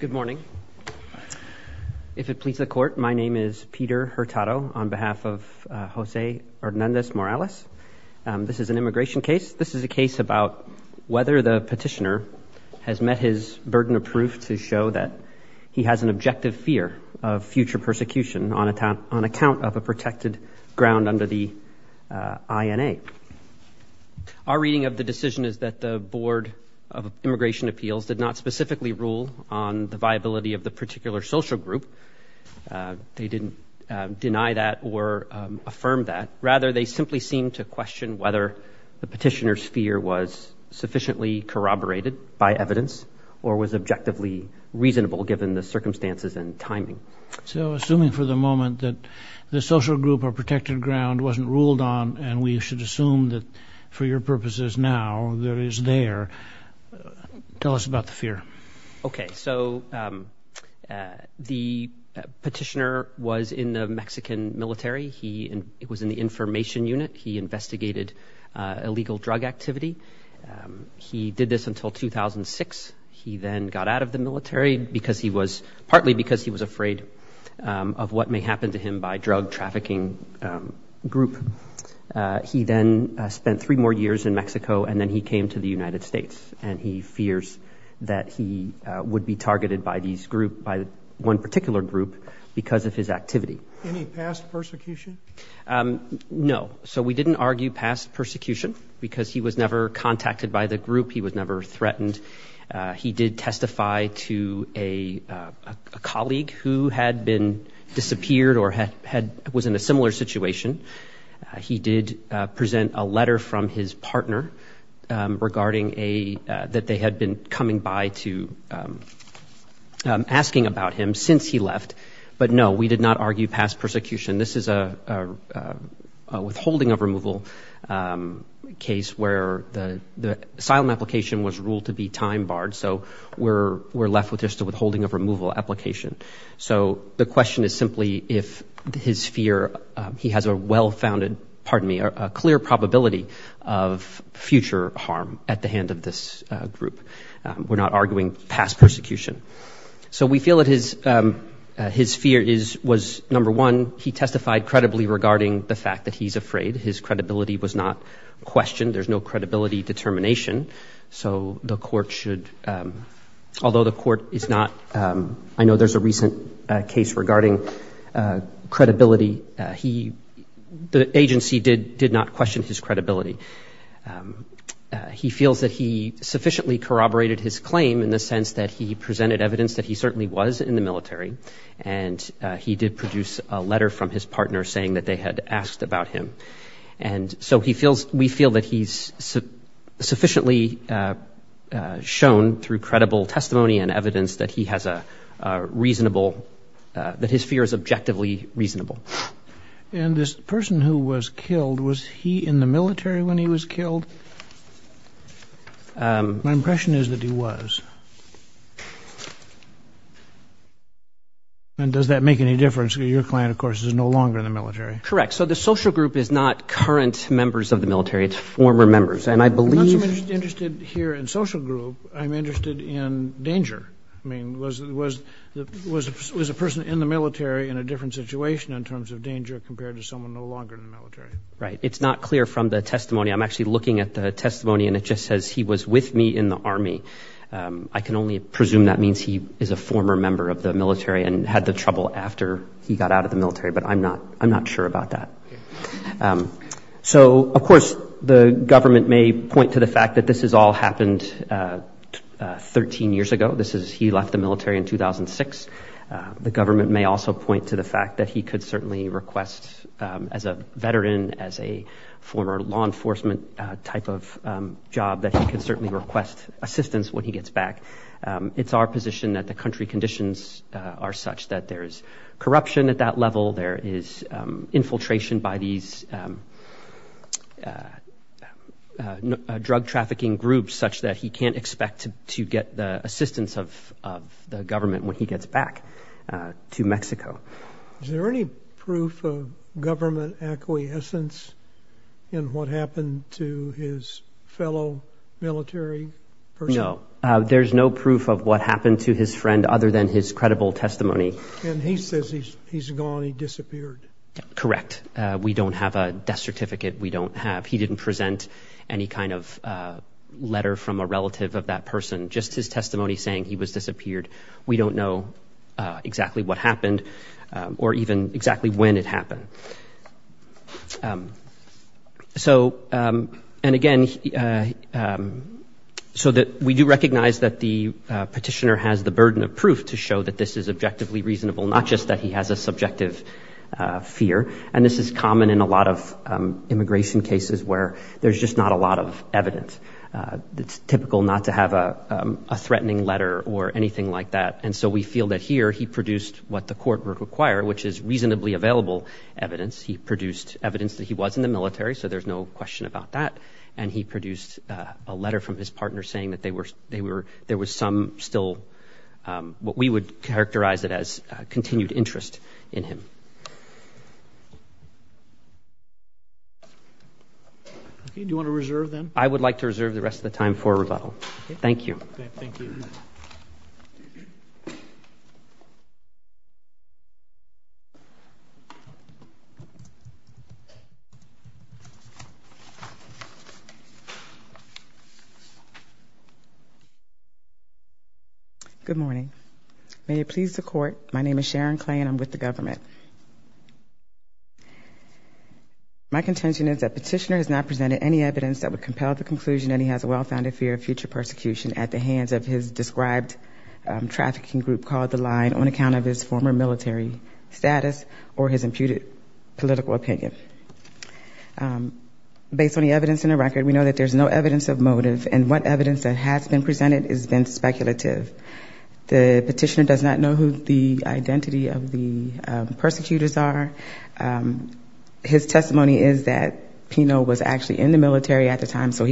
Good morning. If it pleases the Court, my name is Peter Hurtado on behalf of Jose Hernandez-Morales. This is an immigration case. This is a case about whether the petitioner has met his burden of proof to show that he has an objective fear of future persecution on account of a of immigration appeals did not specifically rule on the viability of the particular social group. They didn't deny that or affirm that. Rather, they simply seem to question whether the petitioner's fear was sufficiently corroborated by evidence or was objectively reasonable given the circumstances and timing. So assuming for the moment that the social group or protected ground wasn't ruled on and we should assume that for your purposes now there is there, tell us about the fear. Okay, so the petitioner was in the Mexican military. He was in the information unit. He investigated illegal drug activity. He did this until 2006. He then got out of the military because he was partly because he was afraid of what may happen to him by drug trafficking group. He then spent three more years in Mexico and then he came to the United States and he fears that he would be targeted by these group by one particular group because of his activity. Any past persecution? No, so we didn't argue past persecution because he was never contacted by the group. He was never contacted. He did present a letter from his partner regarding that they had been coming by to asking about him since he left. But no, we did not argue past persecution. This is a withholding of removal case where the asylum application was ruled to be time barred. So we're left with just a withholding of removal application. So the question is simply if his fear, he has a well-founded, pardon me, a clear probability of future harm at the hand of this group. We're not arguing past persecution. So we feel that his fear was number one, he testified credibly regarding the fact that he's afraid. His credibility was not questioned. There's no credibility determination. So the court should, although the court is not, I know there's a recent case regarding credibility, he, the agency did not question his credibility. He feels that he sufficiently corroborated his claim in the sense that he presented evidence that he certainly was in the military. And he did produce a letter from his partner saying that they had asked about him. And so he feels, we feel that he's sufficiently shown through reasonable, that his fear is objectively reasonable. And this person who was killed, was he in the military when he was killed? My impression is that he was. And does that make any difference? Your client, of course, is no longer in the military. Correct. So the social group is not current members of the military, it's former members. And I believe... I'm interested in danger. I mean, was a person in the military in a different situation in terms of danger compared to someone no longer in the military? Right. It's not clear from the testimony. I'm actually looking at the testimony and it just says he was with me in the army. I can only presume that means he is a former member of the military and had the trouble after he got out of the military, but I'm not sure about that. Okay. So of course, the government may point to the fact that this has all happened 13 years ago. This is, he left the military in 2006. The government may also point to the fact that he could certainly request as a veteran, as a former law enforcement type of job, that he could certainly request assistance when he gets back. It's our position that the country conditions are such that there is corruption at that level. There is infiltration by these drug trafficking groups such that he can't expect to get the assistance of the government when he gets back to Mexico. Is there any proof of government acquiescence in what happened to his fellow military person? There's no proof of what happened to his friend other than his credible testimony. And he says he's gone, he disappeared. Correct. We don't have a death certificate. We don't have, he didn't present any kind of letter from a relative of that person, just his testimony saying he was disappeared. We don't know exactly what happened or even exactly when it happened. So, and again, so that we do recognize that the petitioner has the burden of proof to show that this is objectively reasonable, not just that he has a subjective fear. And this is common in a lot of immigration cases where there's just not a lot of evidence. It's typical not to have a threatening letter or anything like that. And so we feel that here he produced what the court would evidence. He produced evidence that he was in the military. So there's no question about that. And he produced a letter from his partner saying that they were, they were, there was some still what we would characterize it as a continued interest in him. Do you want to reserve them? I would like to reserve the rest of the time for rebuttal. Thank you. Okay. Good morning. May it please the court. My name is Sharon Clay and I'm with the government. My contention is that petitioner has not presented any evidence that would compel the conclusion that he has a well-founded fear of future persecution at the hands of his described trafficking group called the line on account of his former military status or his imputed political opinion. Based on the evidence in the record, we know that there's no evidence of motive and what evidence that has been presented has been speculative. The petitioner does not know who the identity of the persecutors are. His testimony is that Pino was actually in the military at the time. The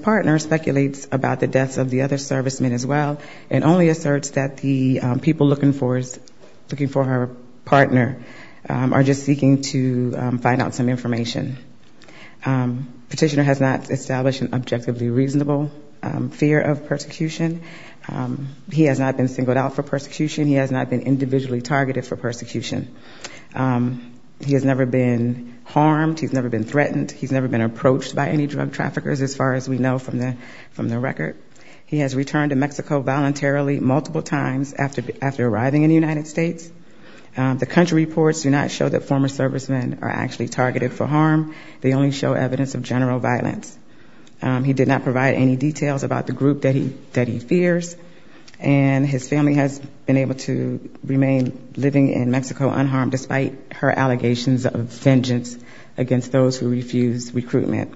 petitioner speculates about the deaths of the other servicemen as well, and only asserts that the people looking for his, looking for her partner are just seeking to find out some information. Petitioner has not established an objectively reasonable fear of persecution. He has not been singled out for persecution. He has not been individually targeted for persecution. He has never been harmed. He's never been threatened. He's never been approached by any from the record. He has returned to Mexico voluntarily multiple times after arriving in the United States. The country reports do not show that former servicemen are actually targeted for harm. They only show evidence of general violence. He did not provide any details about the group that he fears, and his family has been able to remain living in Mexico unharmed despite her allegations of vengeance against those who refused recruitment.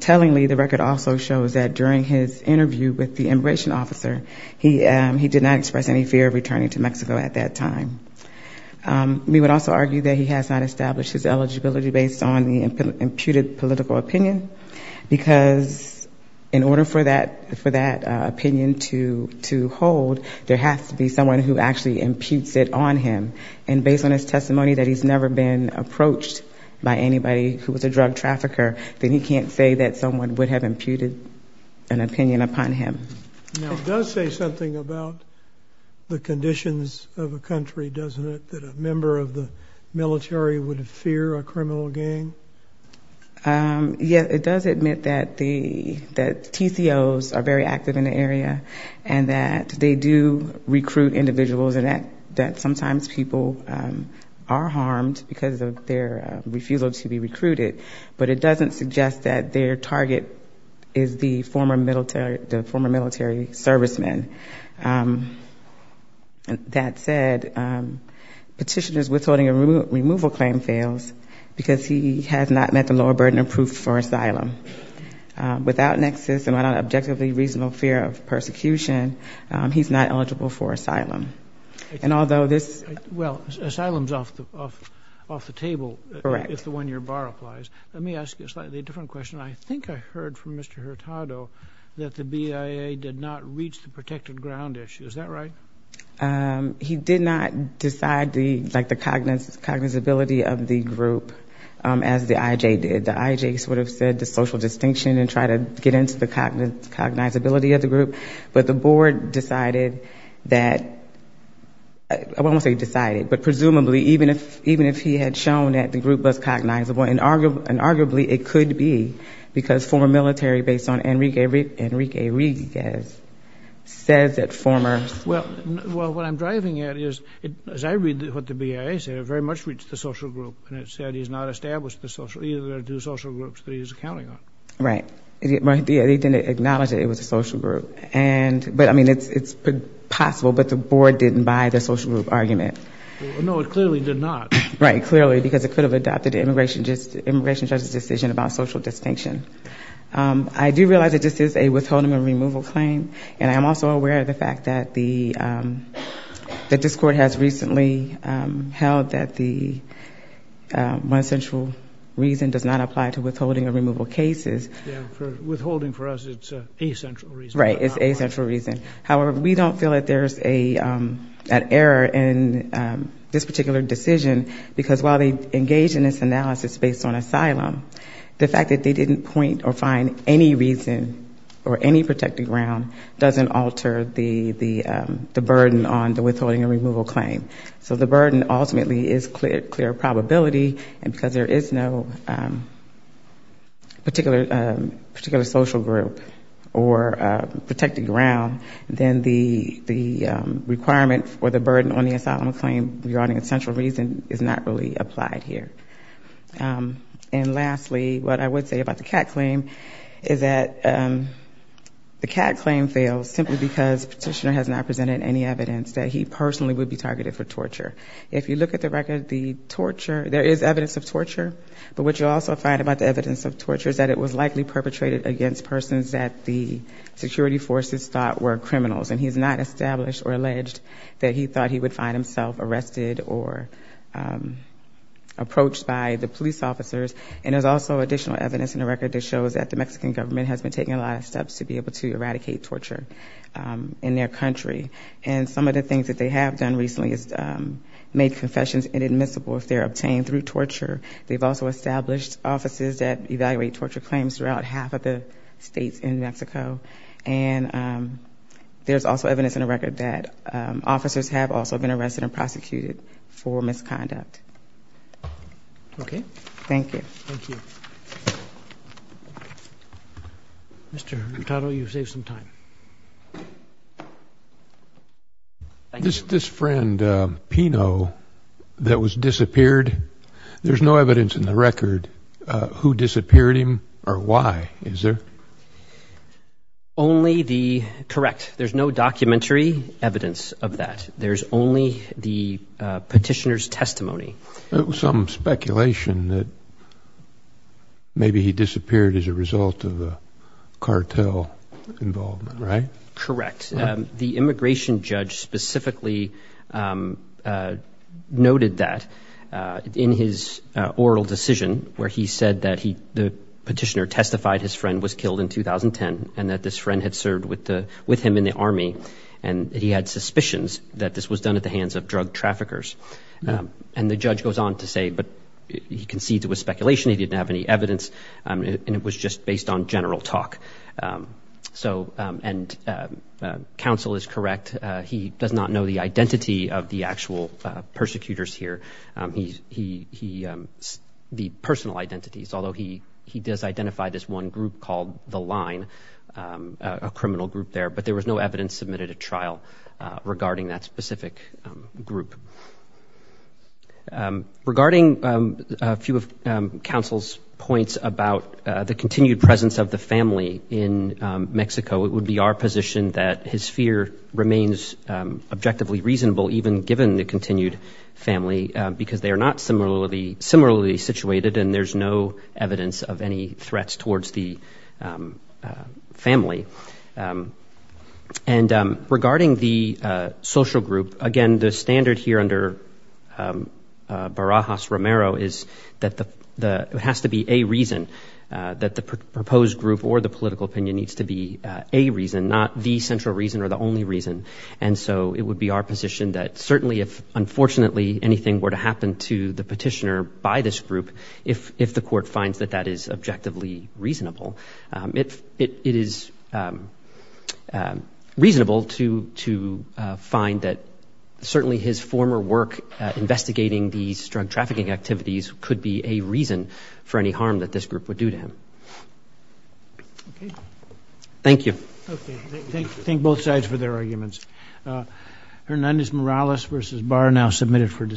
Tellingly, the record also shows that during his interview with the immigration officer, he did not express any fear of returning to Mexico at that time. We would also argue that he has not established his eligibility based on the imputed political opinion, because in order for that opinion to hold, there has to be someone who actually imputes it on him. And based on his testimony that he's never been approached by anybody who was a drug trafficker, then he can't say that someone would have imputed an opinion upon him. It does say something about the conditions of a country, doesn't it, that a member of the military would fear a criminal gang? Yeah, it does admit that the sometimes people are harmed because of their refusal to be recruited, but it doesn't suggest that their target is the former military serviceman. That said, petitioners withholding a removal claim fails because he has not met the lower burden of proof for asylum. Without nexus and without objectively reasonable fear of persecution, he's not eligible for asylum. And although this... Well, asylum's off the table if the one-year bar applies. Let me ask you a slightly different question. I think I heard from Mr. Hurtado that the BIA did not reach the protected ground issue. Is that right? He did not decide the cognizability of the group as the IJ did. The IJ sort of said the social distinction and tried to get into the cognizability of the decided that... I won't say decided, but presumably even if he had shown that the group was cognizable, and arguably it could be because former military based on Enrique Rivas says that former... Well, what I'm driving at is, as I read what the BIA said, it very much reached the social group. And it said he's not established the social... Either there are two social groups that he's counting on. Right. They didn't acknowledge that it was a social group. But it's possible, but the board didn't buy the social group argument. No, it clearly did not. Right. Clearly, because it could have adopted the immigration judge's decision about social distinction. I do realize that this is a withholding and removal claim. And I'm also aware of the fact that this court has recently held that the one central reason does not apply to withholding and removal cases. Yeah. Withholding for us, it's a central reason. It's a central reason. However, we don't feel that there's an error in this particular decision, because while they engage in this analysis based on asylum, the fact that they didn't point or find any reason or any protected ground doesn't alter the burden on the withholding and removal claim. So the burden ultimately is clear probability, and because there is no particular social group or protected ground, then the requirement or the burden on the asylum claim regarding a central reason is not really applied here. And lastly, what I would say about the Catt claim is that the Catt claim fails simply because petitioner has not presented any evidence that he personally would be targeted for torture. If you look at the record, there is evidence of torture, but what you also find about the likely perpetrated against persons that the security forces thought were criminals, and he's not established or alleged that he thought he would find himself arrested or approached by the police officers. And there's also additional evidence in the record that shows that the Mexican government has been taking a lot of steps to be able to eradicate torture in their country. And some of the things that they have done recently is make confessions inadmissible if they're obtained through torture. They've also established offices that evaluate torture claims throughout half of the states in Mexico. And there's also evidence in the record that officers have also been arrested and prosecuted for misconduct. Okay. Thank you. Thank you. Mr. Hurtado, you saved some time. This friend, Pino, that was disappeared, there's no evidence in the record who disappeared him or why, is there? Only the, correct, there's no documentary evidence of that. There's only the petitioner's testimony. It was some speculation that maybe he disappeared as a result of the Correct. The immigration judge specifically noted that in his oral decision where he said that he, the petitioner testified his friend was killed in 2010 and that this friend had served with him in the army. And he had suspicions that this was done at the hands of drug traffickers. And the judge goes on to say, but he concedes it was speculation. He didn't have any evidence. And it was just based on general talk. So, and counsel is correct. He does not know the identity of the actual persecutors here. He, the personal identities, although he does identify this one group called the line, a criminal group there, but there was no evidence submitted at trial regarding that specific group. Regarding a few of counsel's points about the continued presence of the family in Mexico, it would be our position that his fear remains objectively reasonable, even given the continued family, because they are not similarly situated and there's no And regarding the social group, again, the standard here under Barajas-Romero is that the, it has to be a reason that the proposed group or the political opinion needs to be a reason, not the central reason or the only reason. And so it would be our position that certainly if unfortunately anything were to happen to the petitioner by this group, if the court finds that that is objectively reasonable, it is reasonable to find that certainly his former work investigating these drug trafficking activities could be a reason for any harm that this group would do to him. Okay. Thank you. Okay. Thank both sides for their arguments. Hernandez-Morales versus Barr, now submitted for decision.